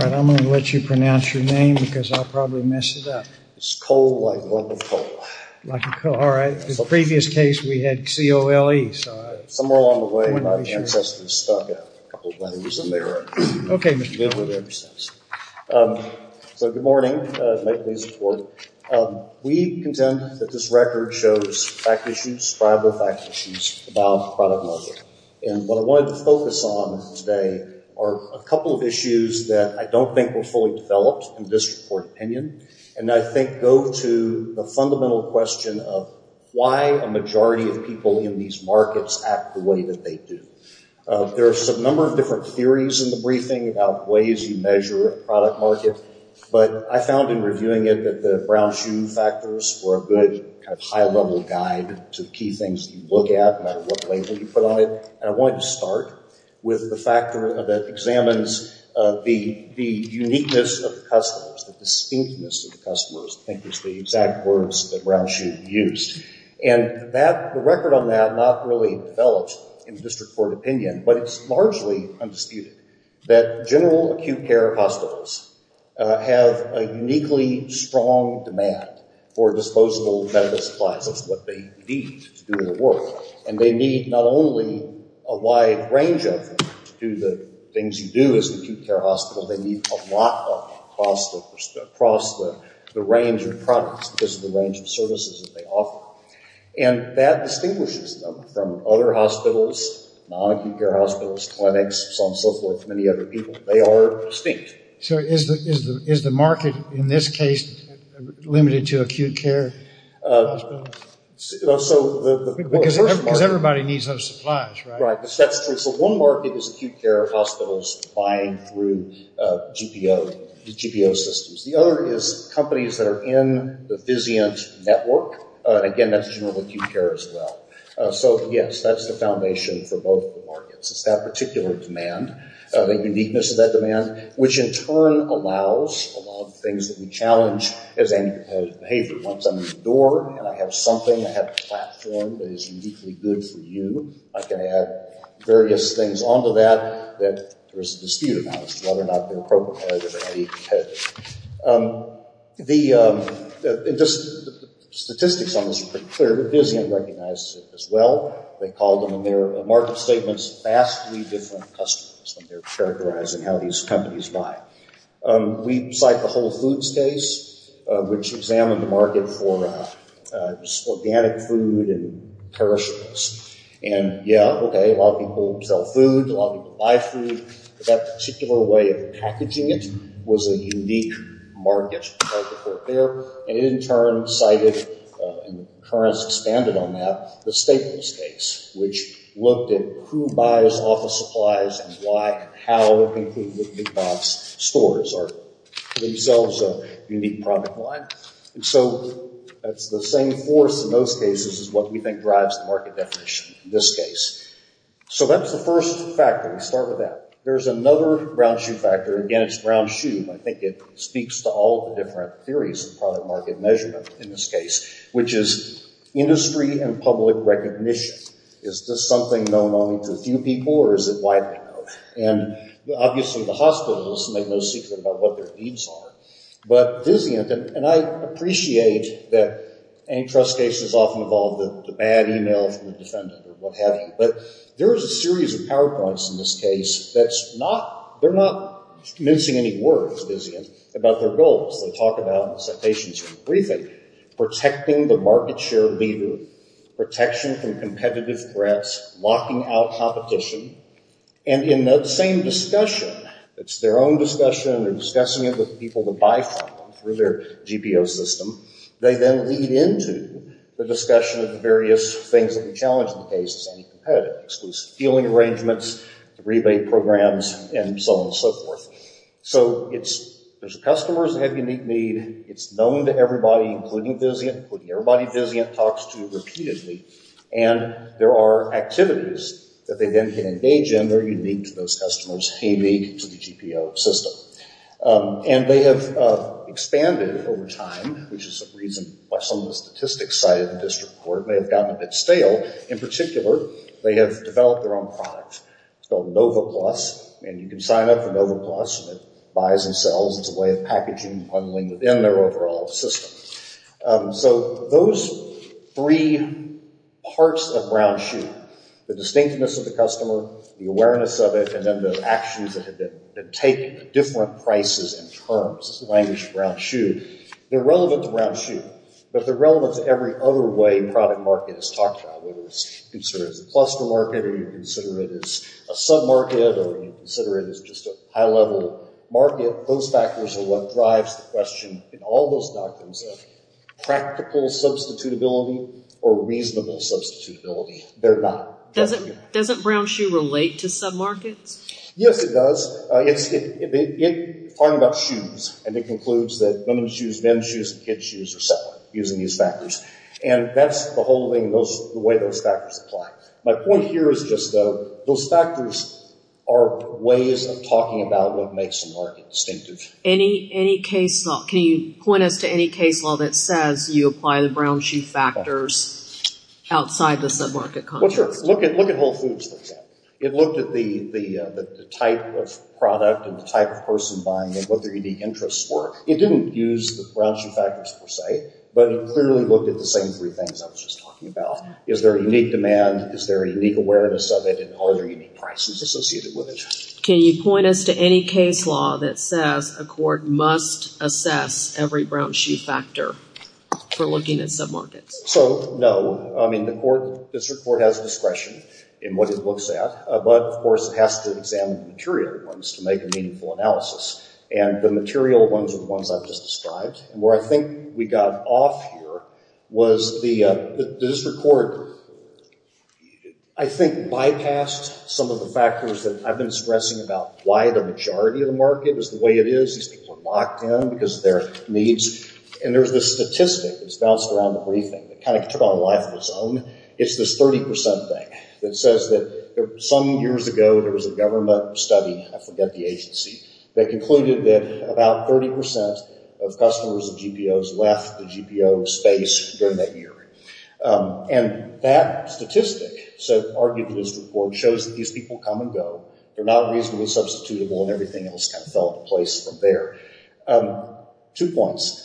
I'm going to let you pronounce your name because I'll probably mess it up. It's Cole, like a local coal. Like a coal, alright. In the previous case we had C-O-L-E. Somewhere along the way my ancestors stuck out. A couple of letters in there. Okay, Mr. Cole. So good morning. We contend that this record shows fact issues, probable fact issues about the product market. And what I wanted to focus on today are a couple of issues that I don't think were fully developed in this report opinion. And I think go to the fundamental question of why a majority of people in these markets act the way that they do. There's a number of different theories in the briefing about ways you measure a product market. But I found in reviewing it that the Brown Shoe factors were a good high level guide to key things you look at, no matter what label you put on it. And I wanted to start with the factor that examines the uniqueness of the customers, the distinctness of the customers, I think is the exact words that Brown Shoe used. And the record on that not really developed in the district court opinion, but it's largely undisputed. That general acute care hospitals have a uniquely strong demand for disposable medical supplies. That's what they need to do their work. And they need not only a wide range of them to do the things you do as an acute care hospital, they need a lot of them across the range of products, just the range of services that they offer. And that distinguishes them from other hospitals, non-acute care hospitals, clinics, so on and so forth, many other people. They are distinct. So is the market in this case limited to acute care hospitals? Because everybody needs those supplies, right? That's true. So one market is acute care hospitals buying through GPO systems. The other is companies that are in the physient network. Again, that's general acute care as well. So, yes, that's the foundation for both the markets. It's that particular demand, the uniqueness of that demand, which in turn allows a lot of things that we challenge as anti-competitive behavior. Once I'm in the door and I have something, I have a platform that is uniquely good for you, I can add various things onto that that there is a dispute about as to whether or not they're appropriate or anti-competitive. The statistics on this are pretty clear. The physient recognizes it as well. They call them in their market statements vastly different customers when they're characterizing how these companies buy. We cite the Whole Foods case, which examined the market for organic food and perishables. And, yeah, okay, a lot of people sell food, a lot of people buy food. That particular way of packaging it was a unique market right there. And it in turn cited, and the currents expanded on that, the Staples case, which looked at who buys office supplies and why and how, including the big box stores are themselves a unique product line. And so that's the same force in those cases as what we think drives the market definition in this case. So that's the first factor. We start with that. There's another ground shoe factor. Again, it's ground shoe. I think it speaks to all the different theories of product market measurement in this case, which is industry and public recognition. Is this something known only to a few people or is it widely known? And obviously the hospitals make no secret about what their needs are. But physient, and I appreciate that antitrust cases often involve the bad email from the defendant or what have you. But there is a series of PowerPoints in this case that's not, they're not mincing any words, physient, about their goals. They talk about, in the citations from the briefing, protecting the market share leader, protection from competitive threats, locking out competition. And in that same discussion, it's their own discussion, they're discussing it with people to buy from through their GPO system. They then lead into the discussion of the various things that we challenge in the case, it's anti-competitive, exclusive dealing arrangements, rebate programs, and so on and so forth. So it's, there's customers that have unique need. It's known to everybody, including physient, including everybody physient talks to repeatedly. And there are activities that they then can engage in that are unique to those customers, unique to the GPO system. And they have expanded over time, which is a reason why some of the statistics cited in this report may have gotten a bit stale. In particular, they have developed their own product. It's called Nova Plus, and you can sign up for Nova Plus, and it buys and sells. It's a way of packaging and bundling within their overall system. So those three parts of Brown Shoe, the distinctiveness of the customer, the awareness of it, and then the actions that take different prices and terms, this is the language of Brown Shoe. They're relevant to Brown Shoe, but they're relevant to every other way product market is talked about, whether it's considered as a cluster market, or you consider it as a sub-market, or you consider it as just a high-level market. Those factors are what drives the question in all those doctrines of practical substitutability or reasonable substitutability. They're not. Doesn't Brown Shoe relate to sub-markets? Yes, it does. It talks about shoes, and it concludes that women's shoes, men's shoes, and kids' shoes are separate, using these factors. And that's the whole thing, the way those factors apply. My point here is just those factors are ways of talking about what makes a market distinctive. Can you point us to any case law that says you apply the Brown Shoe factors outside the sub-market context? Well, sure. Look at Whole Foods, for example. It looked at the type of product and the type of person buying it, what their unique interests were. It didn't use the Brown Shoe factors, per se, but it clearly looked at the same three things I was just talking about. Is there a unique demand? Is there a unique awareness of it? And are there unique prices associated with it? Can you point us to any case law that says a court must assess every Brown Shoe factor for looking at sub-markets? So, no. I mean, the district court has discretion in what it looks at, but, of course, it has to examine the material ones to make a meaningful analysis. And the material ones are the ones I've just described. And where I think we got off here was the district court, I think, bypassed some of the factors that I've been stressing about, why the majority of the market is the way it is. These people are locked in because of their needs. And there's this statistic that's bounced around the briefing that kind of took on a life of its own. It's this 30% thing that says that some years ago there was a government study, I forget the agency, that concluded that about 30% of customers of GPOs left the GPO space during that year. And that statistic, so argued the district court, shows that these people come and go. They're not reasonably substitutable, and everything else kind of fell into place from there. Two points.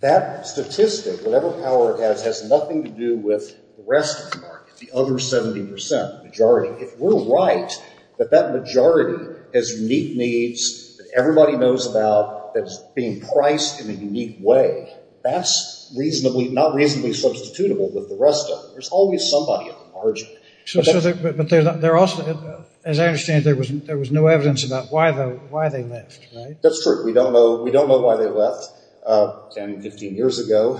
That statistic, whatever power it has, has nothing to do with the rest of the market, the other 70% majority. If we're right that that majority has unique needs that everybody knows about that's being priced in a unique way, that's not reasonably substitutable with the rest of it. There's always somebody at the margin. But there also, as I understand, there was no evidence about why they left, right? That's true. We don't know why they left 10, 15 years ago.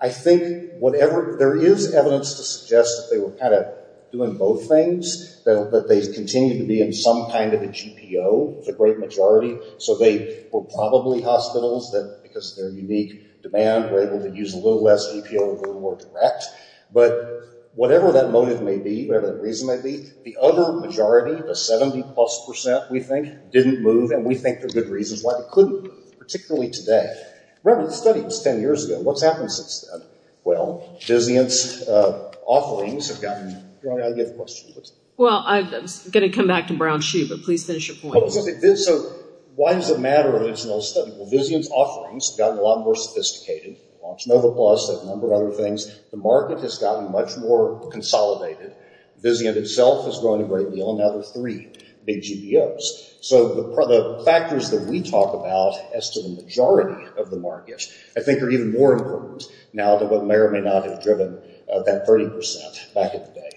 I think there is evidence to suggest that they were kind of doing both things, that they continue to be in some kind of a GPO. It's a great majority. So they were probably hospitals that, because of their unique demand, were able to use a little less GPO and were more direct. But whatever that motive may be, whatever that reason may be, the other majority, the 70-plus percent, we think, didn't move. And we think there are good reasons why they couldn't move, particularly today. Remember, the study was 10 years ago. What's happened since then? Well, Vizient's offerings have gotten – I have a question. Well, I'm going to come back to Brown's shoe, but please finish your point. So why does it matter? It's an old study. Well, Vizient's offerings have gotten a lot more sophisticated. Launch Nova Plus, a number of other things. The market has gotten much more consolidated. Vizient itself has grown a great deal, and now there are three big GPOs. So the factors that we talk about as to the majority of the market, I think, are even more important now than what may or may not have driven that 30 percent back in the day.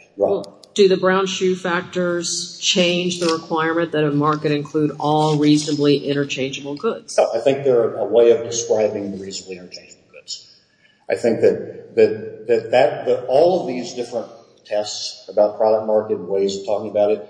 Do the Brown's shoe factors change the requirement that a market include all reasonably interchangeable goods? I think they're a way of describing the reasonably interchangeable goods. I think that all of these different tests about product market and ways of talking about it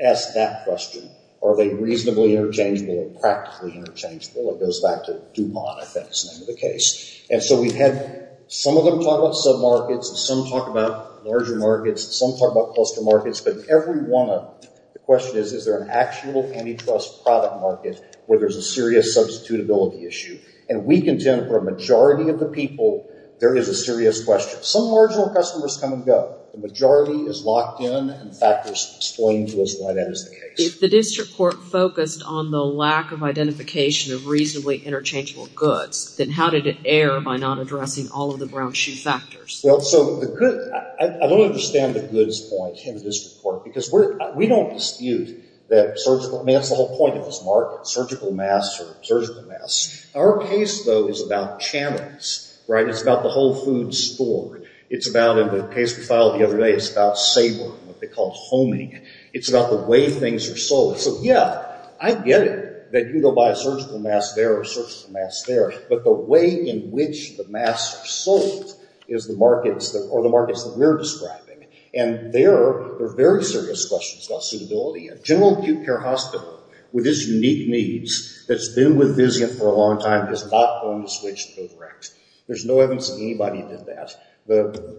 ask that question. Are they reasonably interchangeable or practically interchangeable? It goes back to DuPont, I think, is the name of the case. And so we've had some of them talk about submarkets, and some talk about larger markets, and some talk about cluster markets. But every one of them, the question is, is there an actual antitrust product market where there's a serious substitutability issue? And we contend for a majority of the people, there is a serious question. Some marginal customers come and go. The majority is locked in, and factors explain to us why that is the case. If the district court focused on the lack of identification of reasonably interchangeable goods, then how did it err by not addressing all of the Brown's shoe factors? Well, so the good – I don't understand the goods point in the district court, because we don't dispute that surgical – I mean, that's the whole point of this market. Surgical masks are surgical masks. Our case, though, is about channels, right? It's about the whole food store. It's about – in the case we filed the other day, it's about SABRE, what they call homing. It's about the way things are sold. So, yeah, I get it that you go buy a surgical mask there or a surgical mask there, but the way in which the masks are sold is the markets that – or the markets that we're describing. And there are very serious questions about suitability. General Acute Care Hospital, with its unique needs, that's been with Vizient for a long time, is not going to switch to go direct. There's no evidence that anybody did that.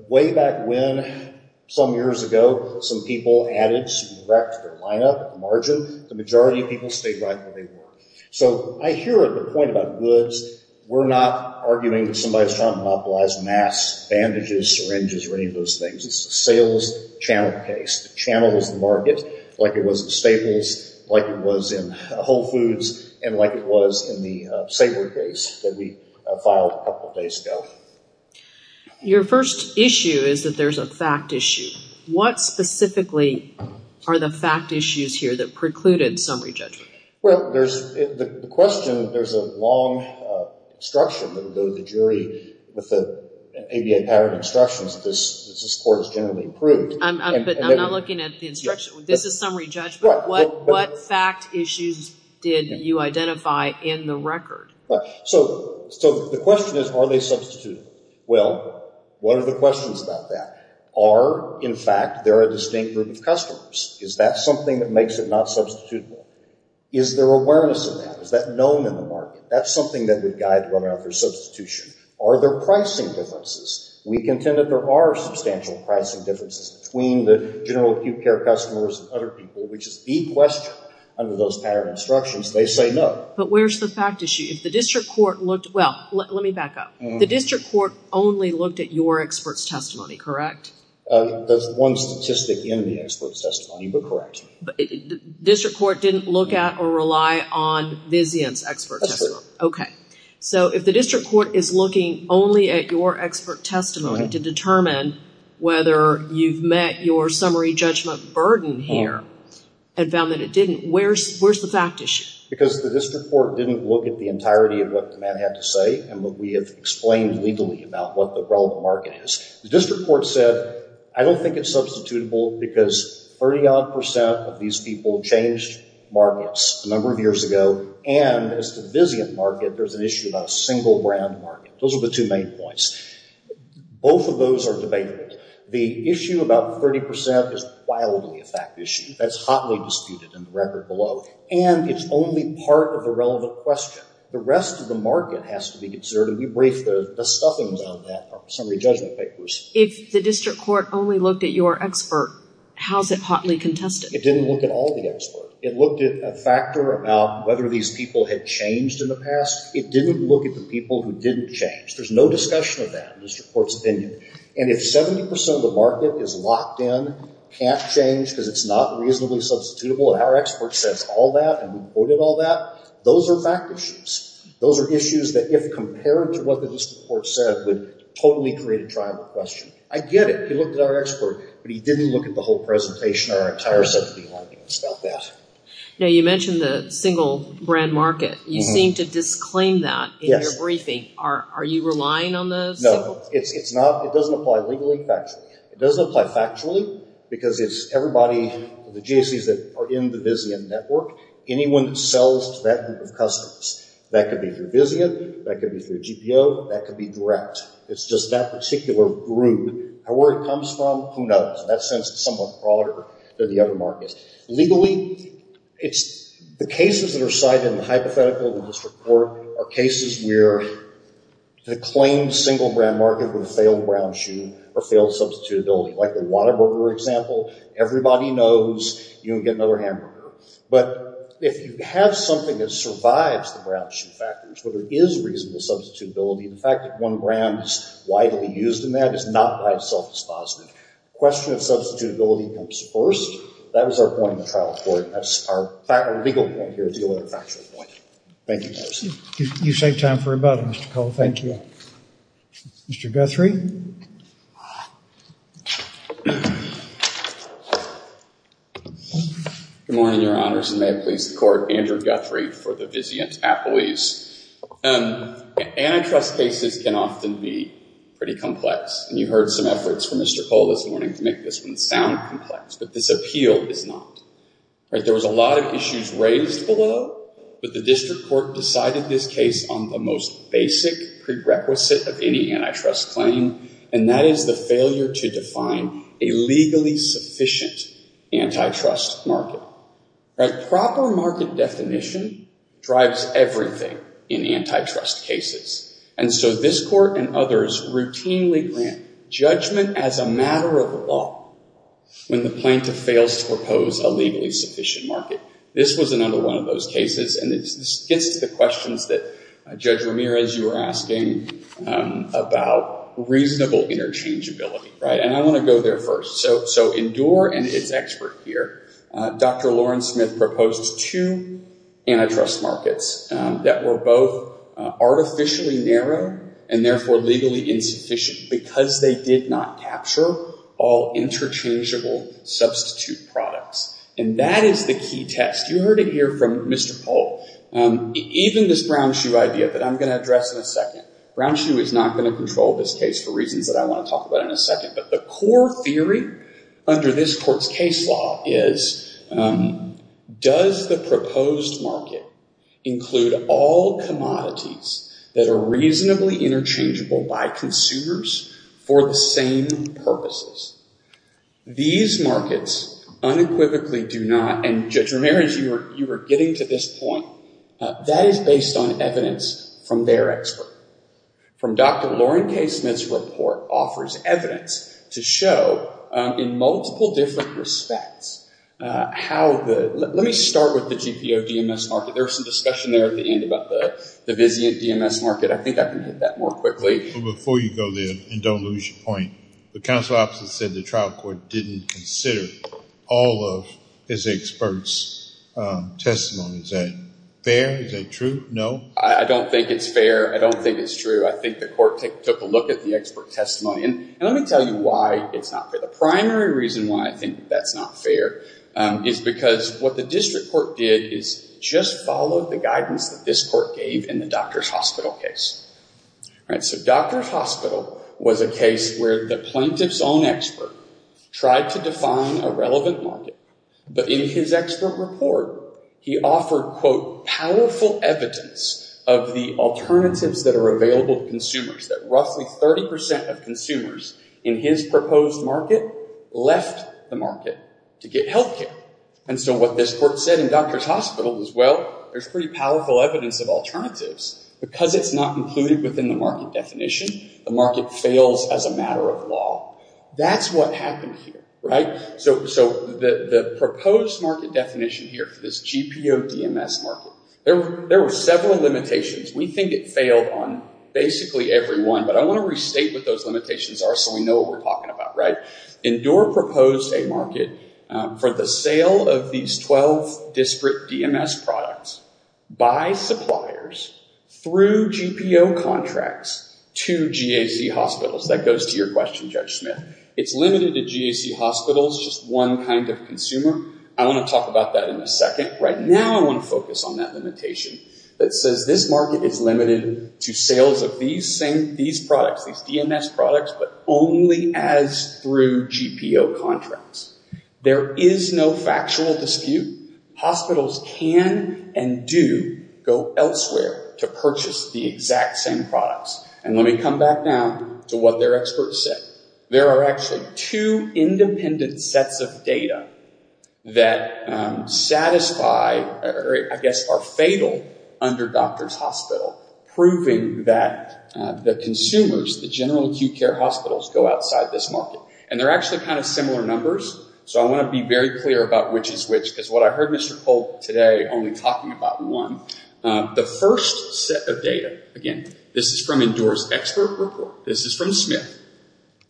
Way back when, some years ago, some people added direct to their lineup, margin. The majority of people stayed right where they were. So I hear the point about goods. We're not arguing that somebody's trying to monopolize masks, bandages, syringes, or any of those things. It's a sales channel case. It channels the market like it was in Staples, like it was in Whole Foods, and like it was in the SABRE case that we filed a couple days ago. Your first issue is that there's a fact issue. What specifically are the fact issues here that precluded summary judgment? Well, there's – the question, there's a long instruction that would go to the jury with the ABA pattern instructions that this court has generally approved. But I'm not looking at the instruction. This is summary judgment. What fact issues did you identify in the record? So the question is, are they substitutable? Well, what are the questions about that? Are, in fact, there a distinct group of customers? Is that something that makes it not substitutable? Is there awareness of that? Is that known in the market? That's something that would guide whether or not there's substitution. Are there pricing differences? We contend that there are substantial pricing differences between the general acute care customers and other people, which is the question under those pattern instructions. They say no. But where's the fact issue? If the district court looked – well, let me back up. The district court only looked at your expert's testimony, correct? There's one statistic in the expert's testimony, but correct. District court didn't look at or rely on Vizian's expert testimony. Okay. So if the district court is looking only at your expert testimony to determine whether you've met your summary judgment burden here and found that it didn't, where's the fact issue? Because the district court didn't look at the entirety of what Matt had to say and what we have explained legally about what the relevant market is. The district court said, I don't think it's substitutable because 30-odd percent of these people changed markets a number of years ago, and as to the Vizian market, there's an issue about a single brand market. Those are the two main points. Both of those are debatable. The issue about 30 percent is wildly a fact issue. That's hotly disputed in the record below, and it's only part of the relevant question. The rest of the market has to be considered, and we briefed the stuffings on that in our summary judgment papers. If the district court only looked at your expert, how's it hotly contested? It didn't look at all the experts. It looked at a factor about whether these people had changed in the past. It didn't look at the people who didn't change. There's no discussion of that in the district court's opinion. And if 70 percent of the market is locked in, can't change because it's not reasonably substitutable, and our expert says all that and we quoted all that, those are fact issues. Those are issues that if compared to what the district court said would totally create a tribal question. I get it. He looked at our expert, but he didn't look at the whole presentation or our entire set of findings about that. Now, you mentioned the single brand market. You seem to disclaim that in your briefing. Are you relying on the single? No. It doesn't apply legally, factually. It doesn't apply factually because it's everybody, the GSEs that are in the Vizian network, anyone that sells to that group of customers, that could be through Vizian, that could be through GPO, that could be direct. It's just that particular group. Where it comes from, who knows? In that sense, it's somewhat broader than the other markets. Legally, the cases that are cited in the hypothetical in the district court are cases where the claimed single brand market with a failed brown shoe or failed substitutability, like the water burger example. Everybody knows you can get another hamburger. But if you have something that survives the brown shoe factors where there is reasonable substitutability, the fact that one brand is widely used in that is not by itself dispositive. The question of substitutability comes first. That was our point in the trial court. That's our legal point here, the only factual point. Thank you. You saved time for rebuttal, Mr. Cole. Thank you. Mr. Guthrie? Good morning, Your Honors, and may it please the Court. Andrew Guthrie for the Vizian Tappalese. Antitrust cases can often be pretty complex, and you heard some efforts from Mr. Cole this morning to make this one sound complex. But this appeal is not. There was a lot of issues raised below, but the district court decided this case on the most basic prerequisite of any antitrust claim, and that is the failure to define a legally sufficient antitrust market. Proper market definition drives everything in antitrust cases. And so this court and others routinely grant judgment as a matter of law when the plaintiff fails to propose a legally sufficient market. This was another one of those cases, and this gets to the questions that Judge Ramirez, you were asking about reasonable interchangeability. And I want to go there first. So Endure and its expert here, Dr. Lawrence Smith, proposed two antitrust markets that were both artificially narrow and therefore legally insufficient because they did not capture all interchangeable substitute products. And that is the key test. You heard it here from Mr. Cole. Even this Brown Shoe idea that I'm going to address in a second. Brown Shoe is not going to control this case for reasons that I want to talk about in a second. But the core theory under this court's case law is, does the proposed market include all commodities that are reasonably interchangeable by consumers for the same purposes? These markets unequivocally do not, and Judge Ramirez, you were getting to this point, that is based on evidence from their expert. From Dr. Lawrence K. Smith's report offers evidence to show in multiple different respects how the, let me start with the GPO DMS market. There was some discussion there at the end about the Vizient DMS market. I think I can hit that more quickly. But before you go there, and don't lose your point, the counsel opposite said the trial court didn't consider all of his expert's testimony. Is that fair? Is that true? No? I don't think it's fair. I don't think it's true. I think the court took a look at the expert testimony. And let me tell you why it's not fair. The primary reason why I think that's not fair is because what the district court did is just follow the guidance that this court gave in the doctor's hospital case. So doctor's hospital was a case where the plaintiff's own expert tried to define a relevant market. But in his expert report, he offered, quote, powerful evidence of the alternatives that are available to consumers. That roughly 30% of consumers in his proposed market left the market to get healthcare. And so what this court said in doctor's hospital was, well, there's pretty powerful evidence of alternatives. Because it's not included within the market definition, the market fails as a matter of law. That's what happened here, right? So the proposed market definition here for this GPO DMS market, there were several limitations. We think it failed on basically every one. But I want to restate what those limitations are so we know what we're talking about, right? Endure proposed a market for the sale of these 12 district DMS products by suppliers through GPO contracts to GAC hospitals. That goes to your question, Judge Smith. It's limited to GAC hospitals, just one kind of consumer. I want to talk about that in a second. Right now I want to focus on that limitation that says this market is limited to sales of these products, these DMS products, but only as through GPO contracts. There is no factual dispute. Hospitals can and do go elsewhere to purchase the exact same products. And let me come back now to what their experts said. There are actually two independent sets of data that satisfy or I guess are fatal under doctor's hospital, proving that the consumers, the general acute care hospitals, go outside this market. And they're actually kind of similar numbers. So I want to be very clear about which is which because what I heard Mr. Polk today only talking about one. The first set of data, again, this is from Endure's expert report, this is from Smith,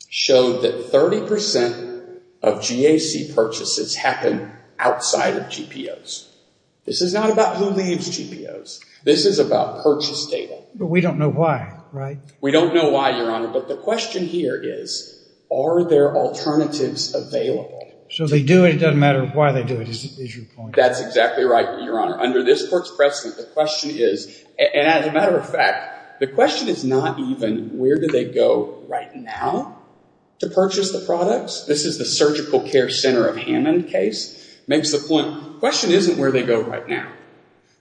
showed that 30% of GAC purchases happen outside of GPOs. This is not about who leaves GPOs. This is about purchase data. But we don't know why, right? We don't know why, Your Honor. But the question here is, are there alternatives available? So they do it. It doesn't matter why they do it is your point. That's exactly right, Your Honor. Under this court's precedent, the question is, and as a matter of fact, the question is not even where do they go right now to purchase the products. This is the surgical care center of Hammond case. Makes the point, the question isn't where they go right now.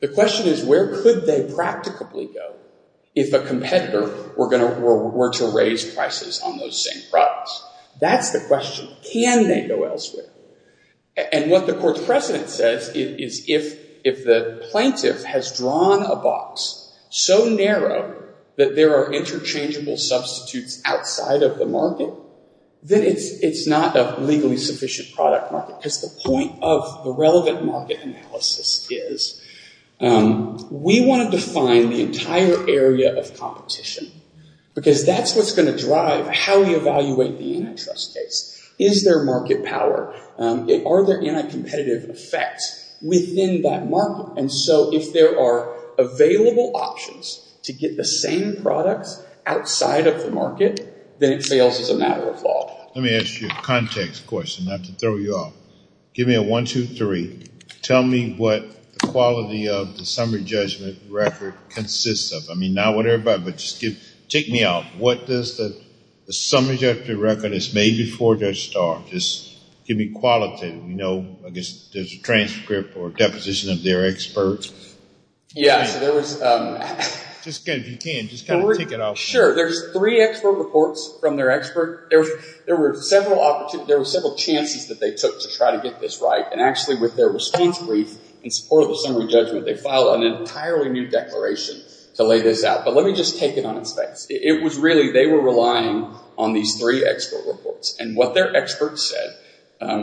The question is where could they practically go if a competitor were to raise prices on those same products? That's the question. Can they go elsewhere? And what the court's precedent says is if the plaintiff has drawn a box so narrow that there are interchangeable substitutes outside of the market, then it's not a legally sufficient product market. Because the point of the relevant market analysis is we want to define the entire area of competition. Because that's what's going to drive how we evaluate the antitrust case. Is there market power? Are there anti-competitive effects within that market? And so if there are available options to get the same products outside of the market, then it fails as a matter of law. Let me ask you a context question, not to throw you off. Give me a one, two, three. Tell me what the quality of the summary judgment record consists of. Check me out. What does the summary judgment record that's made before Judge Starr? Just give me quality. I guess there's a transcript or a deposition of their experts. Yeah, so there was... If you can, just kind of tick it off. Sure. There's three expert reports from their expert. There were several chances that they took to try to get this right. And actually, with their response brief in support of the summary judgment, they filed an entirely new declaration to lay this out. But let me just take it on its face. It was really they were relying on these three expert reports. And what their experts said,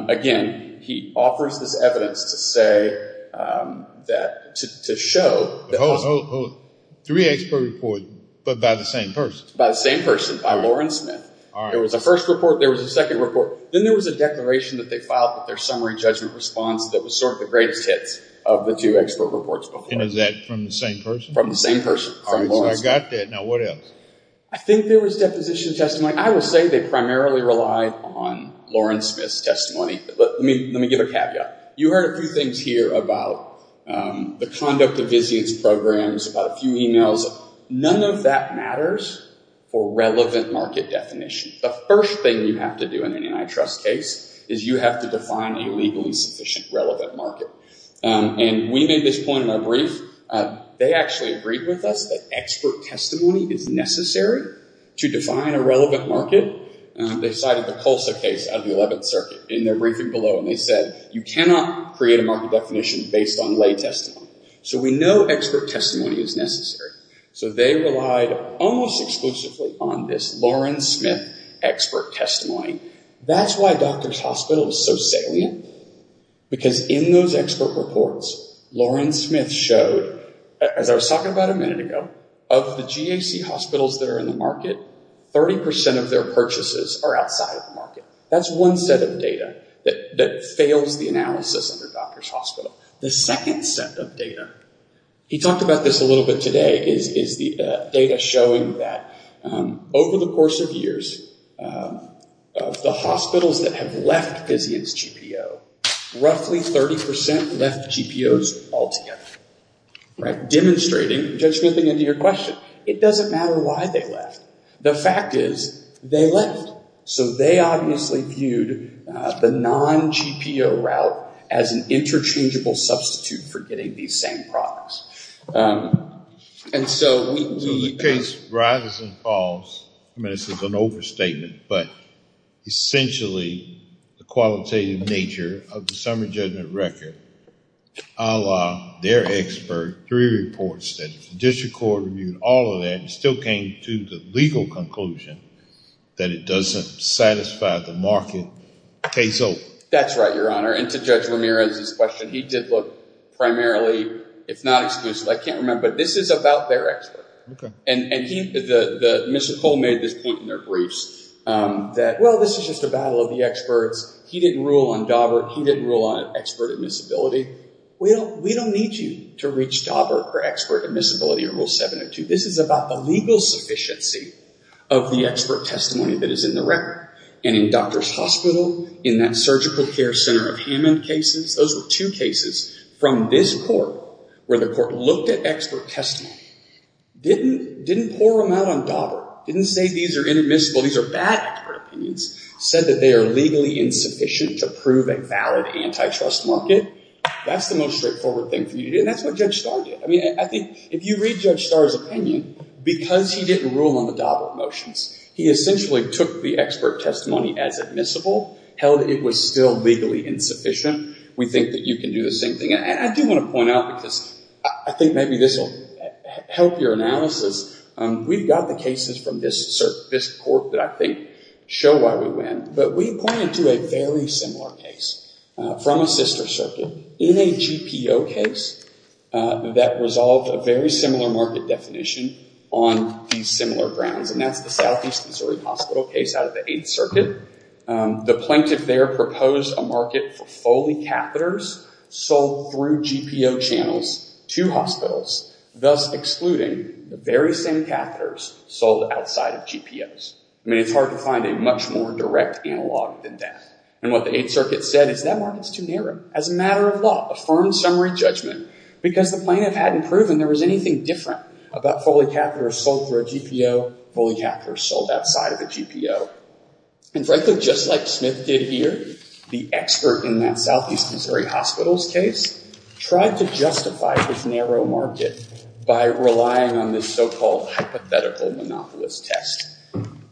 again, he offers this evidence to show that... Hold, hold, hold. Three expert reports, but by the same person? By the same person, by Loren Smith. There was a first report. There was a second report. Then there was a declaration that they filed with their summary judgment response that was sort of the greatest hits of the two expert reports before. And is that from the same person? From the same person, from Loren Smith. I got that. Now, what else? I think there was deposition testimony. I will say they primarily relied on Loren Smith's testimony. Let me give a caveat. You heard a few things here about the conduct of business programs, about a few emails. None of that matters for relevant market definition. The first thing you have to do in an antitrust case is you have to define a legally sufficient relevant market. And we made this point in our brief. They actually agreed with us that expert testimony is necessary to define a relevant market. They cited the Colsa case out of the 11th Circuit in their briefing below. And they said you cannot create a market definition based on lay testimony. So we know expert testimony is necessary. So they relied almost exclusively on this Loren Smith expert testimony. That's why Doctors Hospital is so salient. Because in those expert reports, Loren Smith showed, as I was talking about a minute ago, of the GAC hospitals that are in the market, 30% of their purchases are outside of the market. That's one set of data that fails the analysis under Doctors Hospital. The second set of data, he talked about this a little bit today, is the data showing that over the course of years, of the hospitals that have left Physian's GPO, roughly 30% left GPOs altogether. Demonstrating, jumping into your question, it doesn't matter why they left. The fact is, they left. So they obviously viewed the non-GPO route as an interchangeable substitute for getting these same products. So the case rises and falls. I mean, this is an overstatement. But essentially, the qualitative nature of the summary judgment record, a la their expert three reports that the district court reviewed all of that and still came to the legal conclusion that it doesn't satisfy the market. Case open. That's right, Your Honor. And to Judge Ramirez's question, he did look primarily, if not exclusively, I can't remember, but this is about their expert. And Mr. Cole made this point in their briefs that, well, this is just a battle of the experts. He didn't rule on Daubert. He didn't rule on expert admissibility. We don't need you to reach Daubert for expert admissibility in Rule 702. This is about the legal sufficiency of the expert testimony that is in the record. And in Doctors Hospital, in that surgical care center of Hammond cases, those were two cases from this court where the court looked at expert testimony. Didn't pour them out on Daubert. Didn't say these are inadmissible. These are bad expert opinions. Said that they are legally insufficient to prove a valid antitrust market. That's the most straightforward thing for you to do. And that's what Judge Starr did. If you read Judge Starr's opinion, because he didn't rule on the Daubert motions, he essentially took the expert testimony as admissible, held it was still legally insufficient. We think that you can do the same thing. And I do want to point out, because I think maybe this will help your analysis, we've got the cases from this court that I think show why we win. But we pointed to a very similar case from a sister circuit in a GPO case that resolved a very similar market definition on these similar grounds. And that's the Southeast Missouri Hospital case out of the Eighth Circuit. The plaintiff there proposed a market for Foley catheters sold through GPO channels to hospitals, thus excluding the very same catheters sold outside of GPOs. I mean, it's hard to find a much more direct analog than that. And what the Eighth Circuit said is that market's too narrow. As a matter of law, affirmed summary judgment, because the plaintiff hadn't proven there was anything different about Foley catheters sold through a GPO, Foley catheters sold outside of a GPO. And frankly, just like Smith did here, the expert in that Southeast Missouri Hospital's case tried to justify this narrow market by relying on this so-called hypothetical monopolist test.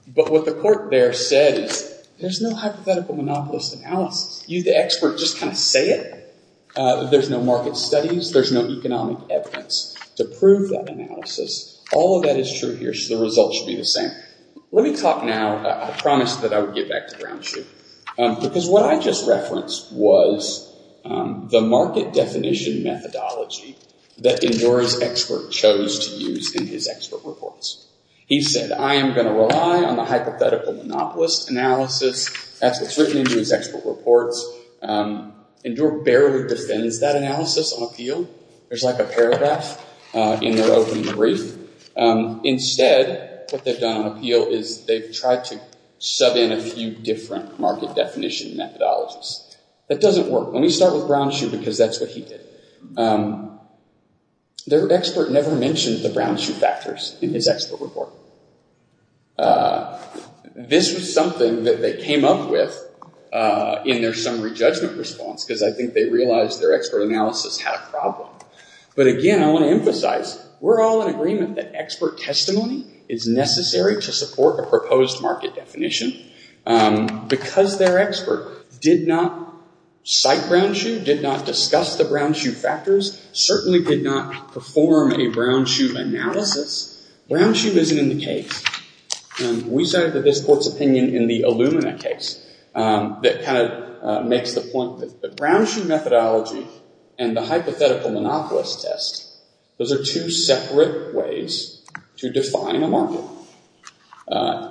But what the court there said is, there's no hypothetical monopolist analysis. You, the expert, just kind of say it. There's no market studies. There's no economic evidence to prove that analysis. All of that is true here, so the results should be the same. Let me talk now, I promised that I would get back to ground truth, because what I just referenced was the market definition methodology that Indora's expert chose to use in his expert reports. He said, I am going to rely on the hypothetical monopolist analysis. That's what's written into his expert reports. Indora barely defends that analysis on appeal. There's like a paragraph in their opening brief. Instead, what they've done on appeal is they've tried to sub in a few different market definition methodologies. That doesn't work. Let me start with ground truth, because that's what he did. Their expert never mentioned the ground truth factors in his expert report. This was something that they came up with in their summary judgment response, because I think they realized their expert analysis had a problem. Again, I want to emphasize, we're all in agreement that expert testimony is necessary to support a proposed market definition. Because their expert did not cite ground truth, did not discuss the ground truth factors, certainly did not perform a ground truth analysis. Ground truth isn't in the case. We cited this court's opinion in the Illumina case that kind of makes the point that ground truth methodology and the hypothetical monopolist test, those are two separate ways to define a market.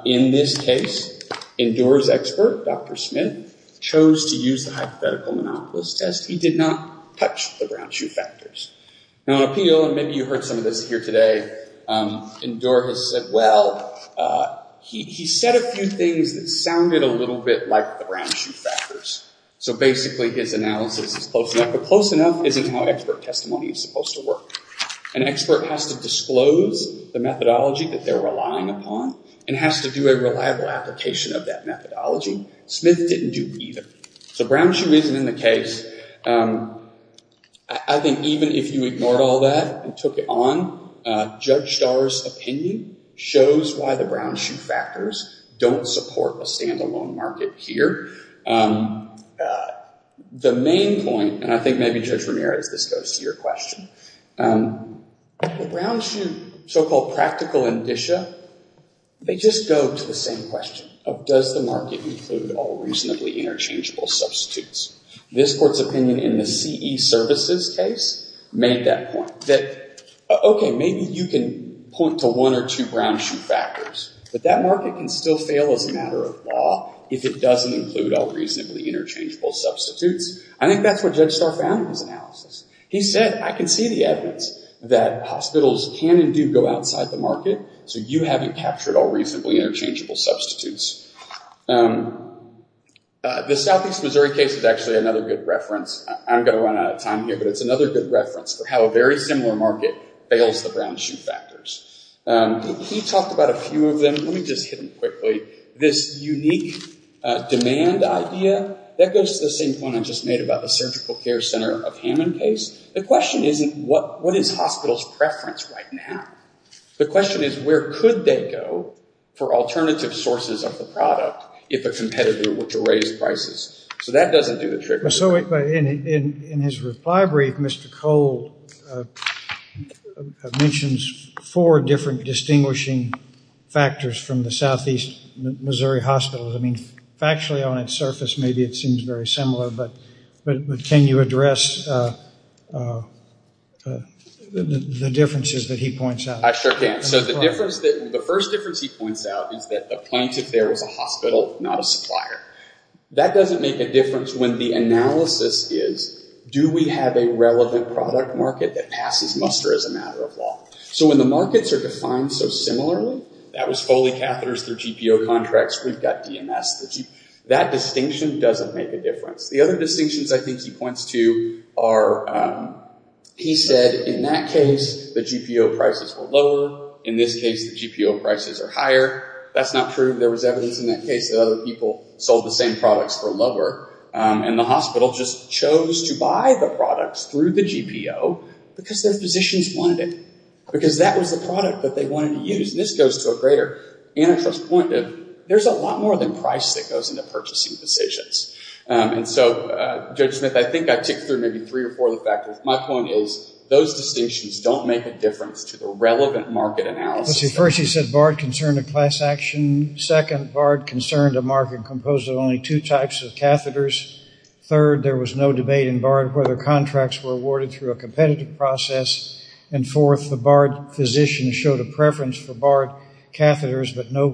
In this case, Indora's expert, Dr. Smith, chose to use the hypothetical monopolist test. He did not touch the ground truth factors. Now on appeal, and maybe you heard some of this here today, Indora has said, well, he said a few things that sounded a little bit like the ground truth factors. So basically, his analysis is close enough. But close enough isn't how expert testimony is supposed to work. An expert has to disclose the methodology that they're relying upon and has to do a reliable application of that methodology. Smith didn't do either. So ground truth isn't in the case. I think even if you ignored all that and took it on, Judge Starr's opinion shows why the ground truth factors don't support a standalone market here. The main point, and I think maybe Judge Ramirez, this goes to your question, the ground truth so-called practical indicia, they just go to the same question of, does the market include all reasonably interchangeable substitutes? This court's opinion in the CE services case made that point. That, OK, maybe you can point to one or two ground truth factors, but that market can still fail as a matter of law if it doesn't include all reasonably interchangeable substitutes. I think that's what Judge Starr found in his analysis. He said, I can see the evidence that hospitals can and do go outside the market, so you haven't captured all reasonably interchangeable substitutes. The Southeast Missouri case is actually another good reference. I'm going to run out of time here, but it's another good reference for how a very similar market fails the ground truth factors. He talked about a few of them. Let me just hit them quickly. This unique demand idea, that goes to the same point I just made about the Surgical Care Center of Hammond case. The question isn't, what is hospitals' preference right now? The question is, where could they go for alternative sources of the product if a competitor were to raise prices? So that doesn't do the trick. So in his reply brief, Mr. Cole mentions four different distinguishing factors from the Southeast Missouri hospitals. I mean, factually on its surface, maybe it seems very similar, but can you address the differences that he points out? I sure can. So the first difference he points out is that the plaintiff there is a hospital, not a supplier. That doesn't make a difference when the analysis is, do we have a relevant product market that passes muster as a matter of law? So when the markets are defined so similarly, that was Foley catheters through GPO contracts, we've got DMS. That distinction doesn't make a difference. The other distinctions I think he points to are, he said in that case, the GPO prices were lower. In this case, the GPO prices are higher. That's not true. There was evidence in that case that other people sold the same products for lower. And the hospital just chose to buy the products through the GPO because their physicians wanted it. Because that was the product that they wanted to use. And this goes to a greater antitrust point. There's a lot more than price that goes into purchasing decisions. And so, Judge Smith, I think I ticked through maybe three or four of the factors. My point is those distinctions don't make a difference to the relevant market analysis. First, he said BARD concerned a class action. Second, BARD concerned a market composed of only two types of catheters. Third, there was no debate in BARD whether contracts were awarded through a competitive process. And fourth, the BARD physician showed a preference for BARD catheters, but no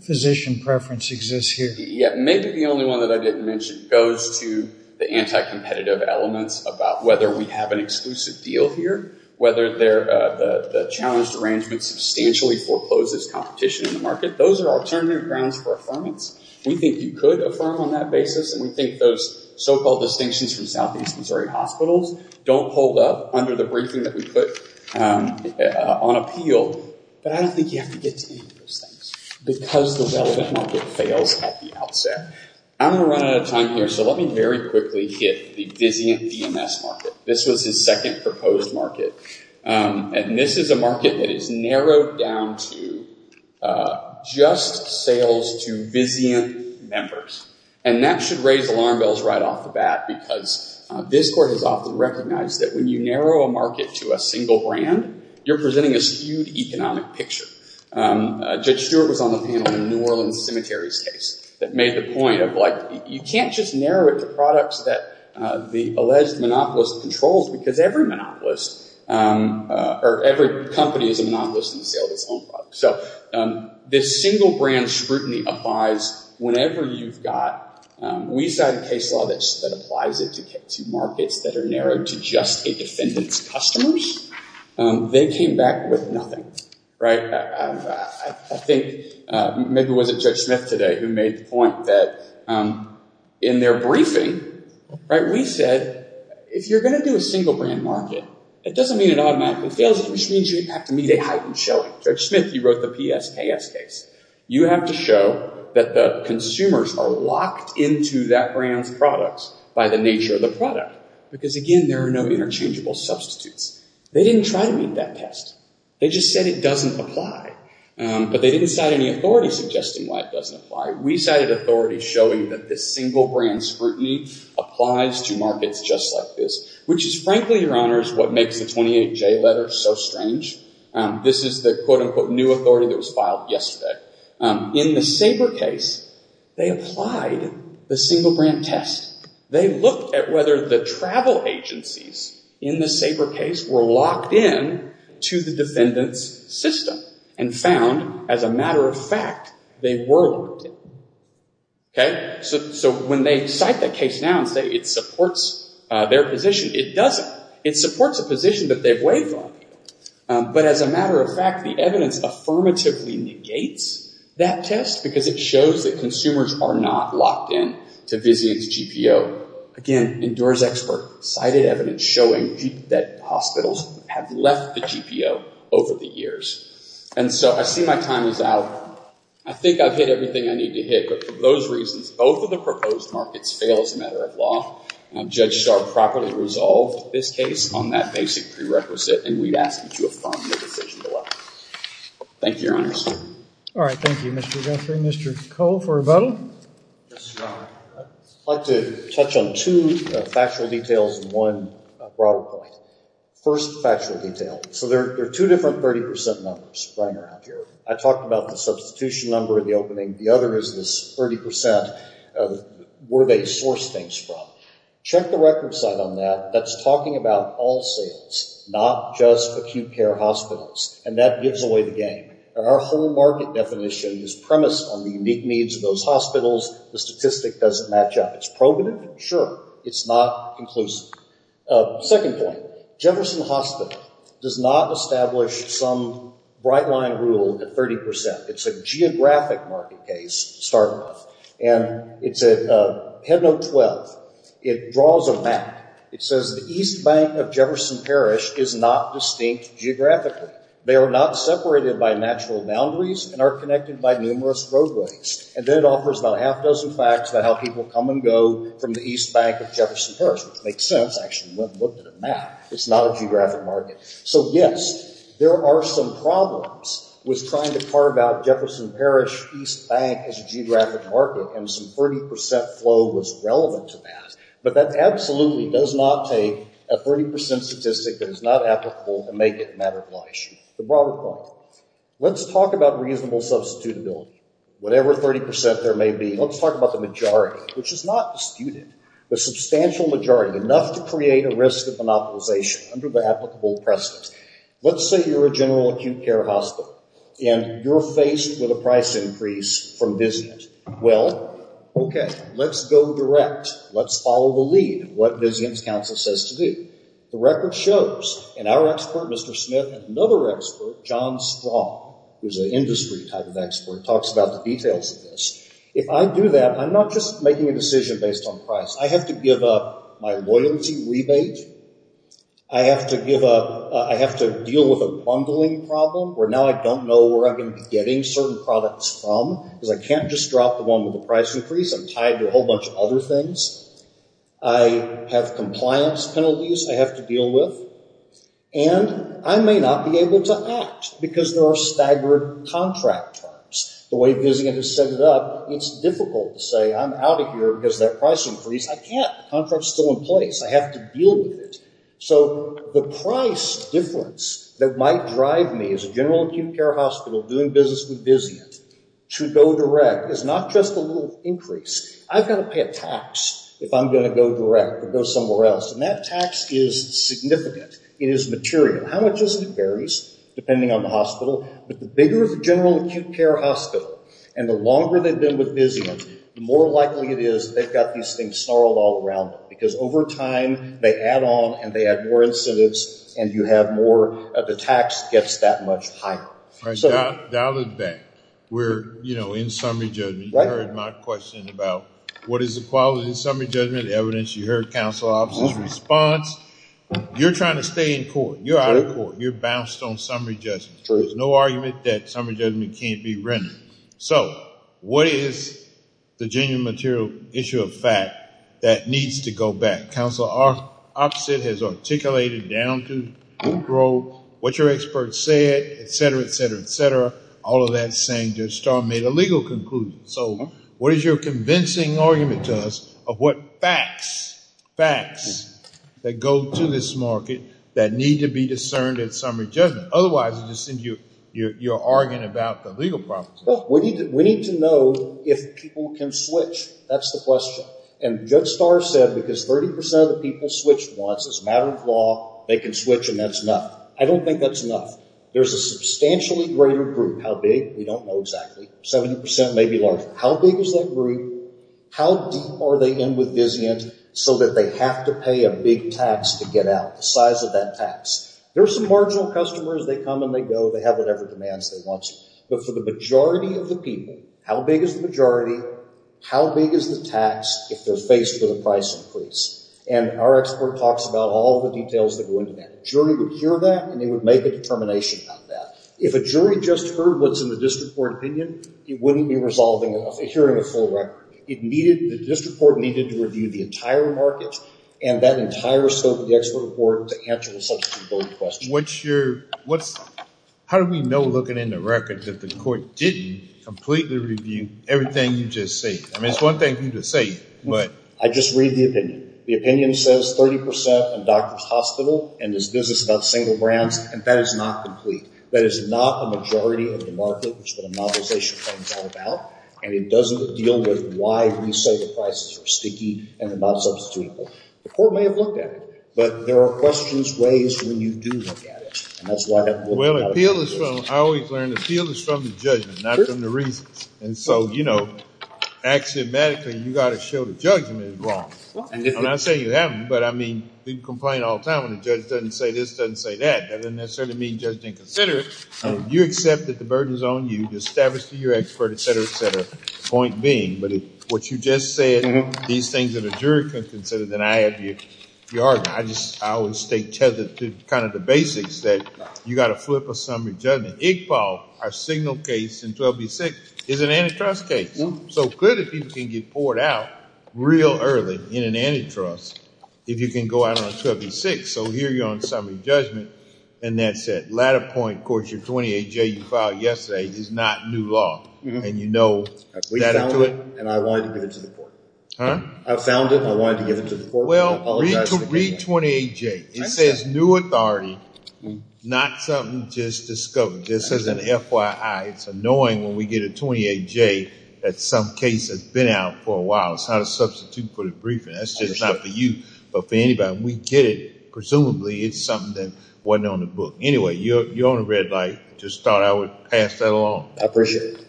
physician preference exists here. Yeah. Maybe the only one that I didn't mention goes to the anti-competitive elements about whether we have an exclusive deal here, whether the challenged arrangement substantially forecloses competition in the market. Those are alternative grounds for affirmance. We think you could affirm on that basis. And we think those so-called distinctions from southeast Missouri hospitals don't hold up under the briefing that we put on appeal. But I don't think you have to get to any of those things because the relevant market fails at the outset. I'm going to run out of time here, so let me very quickly hit the Vizient DMS market. This was his second proposed market. And this is a market that is narrowed down to just sales to Vizient members. And that should raise alarm bells right off the bat because this court has often recognized that when you narrow a market to a single brand, you're presenting a skewed economic picture. Judge Stewart was on the panel in New Orleans Cemetery's case that made the point of, like, you can't just narrow it to products that the alleged monopolist controls because every monopolist, or every company is a monopolist in the sale of its own product. So this single brand scrutiny applies whenever you've got, we signed a case law that applies it to markets that are narrowed to just a defendant's customers. They came back with nothing, right? I think maybe it wasn't Judge Smith today who made the point that in their briefing, right, we said, if you're going to do a single brand market, it doesn't mean it automatically fails, it just means you have to meet a heightened showing. Judge Smith, you wrote the PSKS case. You have to show that the consumers are locked into that brand's products by the nature of the product. Because again, there are no interchangeable substitutes. They didn't try to meet that test. They just said it doesn't apply. But they didn't cite any authority suggesting why it doesn't apply. We cited authority showing that this single brand scrutiny applies to markets just like this, which is frankly, Your Honor, is what makes the 28J letter so strange. This is the quote-unquote new authority that was filed yesterday. In the Sabre case, they applied the single brand test. They looked at whether the travel agencies in the Sabre case were locked in to the defendant's system and found, as a matter of fact, they were locked in. Okay? So when they cite that case now and say it supports their position, it doesn't. It supports a position that they've waived on. But as a matter of fact, the evidence affirmatively negates that test because it shows that consumers are not locked in to Vizian's GPO. Again, endures expert. Cited evidence showing that hospitals have left the GPO over the years. And so I see my time is out. I think I've hit everything I need to hit. But for those reasons, both of the proposed markets fail as a matter of law. Judge Starr properly resolved this case on that basic prerequisite, and we'd ask that you affirm the decision to allow it. Thank you, Your Honors. All right. Thank you, Mr. Guthrie. Mr. Cole for rebuttal. Yes, Your Honor. I'd like to touch on two factual details and one broader point. First factual detail. So there are two different 30% numbers running around here. I talked about the substitution number in the opening. The other is this 30% of where they source things from. Check the record site on that. That's talking about all sales, not just acute care hospitals, and that gives away the game. Our whole market definition is premised on the unique needs of those hospitals. The statistic doesn't match up. It's probative? Sure. It's not inclusive. Second point. Jefferson Hospital does not establish some bright-line rule at 30%. It's a geographic market case to start with. And it's at Headnote 12. It draws a map. It says the East Bank of Jefferson Parish is not distinct geographically. They are not separated by natural boundaries and are connected by numerous roadways. And then it offers about a half-dozen facts about how people come and go from the East Bank of Jefferson Parish, which makes sense. I actually went and looked at a map. It's not a geographic market. So, yes, there are some problems with trying to carve out Jefferson Parish East Bank as a geographic market, and some 30% flow was relevant to that. But that absolutely does not take a 30% statistic that is not applicable and make it a matter of law issue. The broader point. Let's talk about reasonable substitutability, whatever 30% there may be. Let's talk about the majority, which is not disputed. The substantial majority, enough to create a risk of monopolization under the applicable precedent. Let's say you're a general acute care hospital, and you're faced with a price increase from Vizient. Well, okay, let's go direct. Let's follow the lead, what Vizient's counsel says to do. The record shows, and our expert, Mr. Smith, and another expert, John Strong, who's an industry type of expert, talks about the details of this. If I do that, I'm not just making a decision based on price. I have to give up my loyalty rebate. I have to deal with a bundling problem, where now I don't know where I'm going to be getting certain products from, because I can't just drop the one with the price increase. I'm tied to a whole bunch of other things. I have compliance penalties I have to deal with. And I may not be able to act, because there are staggered contract terms. The way Vizient has set it up, it's difficult to say, I'm out of here because of that price increase. I can't. The contract's still in place. I have to deal with it. So the price difference that might drive me, as a general acute care hospital doing business with Vizient, to go direct is not just a little increase. I've got to pay a tax if I'm going to go direct or go somewhere else, and that tax is significant. It is material. How much is it varies depending on the hospital, but the bigger the general acute care hospital, and the longer they've been with Vizient, the more likely it is they've got these things snarled all around them, because over time they add on and they add more incentives, and the tax gets that much higher. Right. Dial it back. We're in summary judgment. You heard my question about what is the quality of summary judgment, the evidence you heard counsel officers' response. You're trying to stay in court. You're out of court. You're bounced on summary judgment. There's no argument that summary judgment can't be rendered. What is the genuine material issue of fact that needs to go back? Counsel officer has articulated down to what your expert said, et cetera, et cetera, et cetera. All of that is saying Judge Starr made a legal conclusion. What is your convincing argument to us of what facts, facts that go to this market that need to be discerned in summary judgment? Otherwise it just seems you're arguing about the legal problems. We need to know if people can switch. That's the question. And Judge Starr said because 30% of the people switch once, it's a matter of law. They can switch and that's enough. I don't think that's enough. There's a substantially greater group. How big? We don't know exactly. 70% maybe larger. How big is that group? How deep are they in with Vizient so that they have to pay a big tax to get out, the size of that tax? There are some marginal customers. They come and they go. They have whatever demands they want. But for the majority of the people, how big is the majority? How big is the tax if they're faced with a price increase? And our expert talks about all of the details that go into that. A jury would hear that and they would make a determination about that. If a jury just heard what's in the district court opinion, it wouldn't be hearing a full record. The district court needed to review the entire market and that entire scope of the expert report to answer the substitutability question. How do we know, looking in the record, that the court didn't completely review everything you just said? I mean, it's one thing for you to say, but. I just read the opinion. The opinion says 30% in Doctors Hospital and this business, not single brands, and that is not complete. That is not a majority of the market, which the novelization claims are about, and it doesn't deal with why we say the prices are sticky and they're not substitutable. The court may have looked at it, but there are questions raised when you do look at it. And that's why I haven't looked at it. Well, appeal is from, I always learned, appeal is from the judgment, not from the reasons. And so, you know, axiomatically, you've got to show the judgment is wrong. I'm not saying you haven't, but I mean, we complain all the time when the judge doesn't say this, doesn't say that. That doesn't necessarily mean the judge didn't consider it. You accept that the burden is on you to establish to your expert, et cetera, et cetera. Point being, but what you just said, these things that a jury could consider, then I have your argument. I just, I always state to kind of the basics that you've got to flip a summary judgment. Iqbal, our signal case in 12B6 is an antitrust case. So clearly people can get poured out real early in an antitrust if you can go out on 12B6. So here you're on summary judgment and that's it. Latter point, of course, your 28J you filed yesterday is not new law. And you know, I found it and I wanted to give it to the court. I found it and I wanted to give it to the court. Well, read 28J. It says new authority, not something just discovered. This is an FYI. It's annoying when we get a 28J that some case has been out for a while. It's how to substitute for the briefing. That's just not for you, but for anybody. We get it. Presumably it's something that wasn't on the book. Anyway, you're on the red light. Just thought I would pass that along. I appreciate it.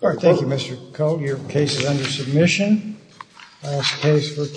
Thank you, Mr. Koh. Your case is under submission.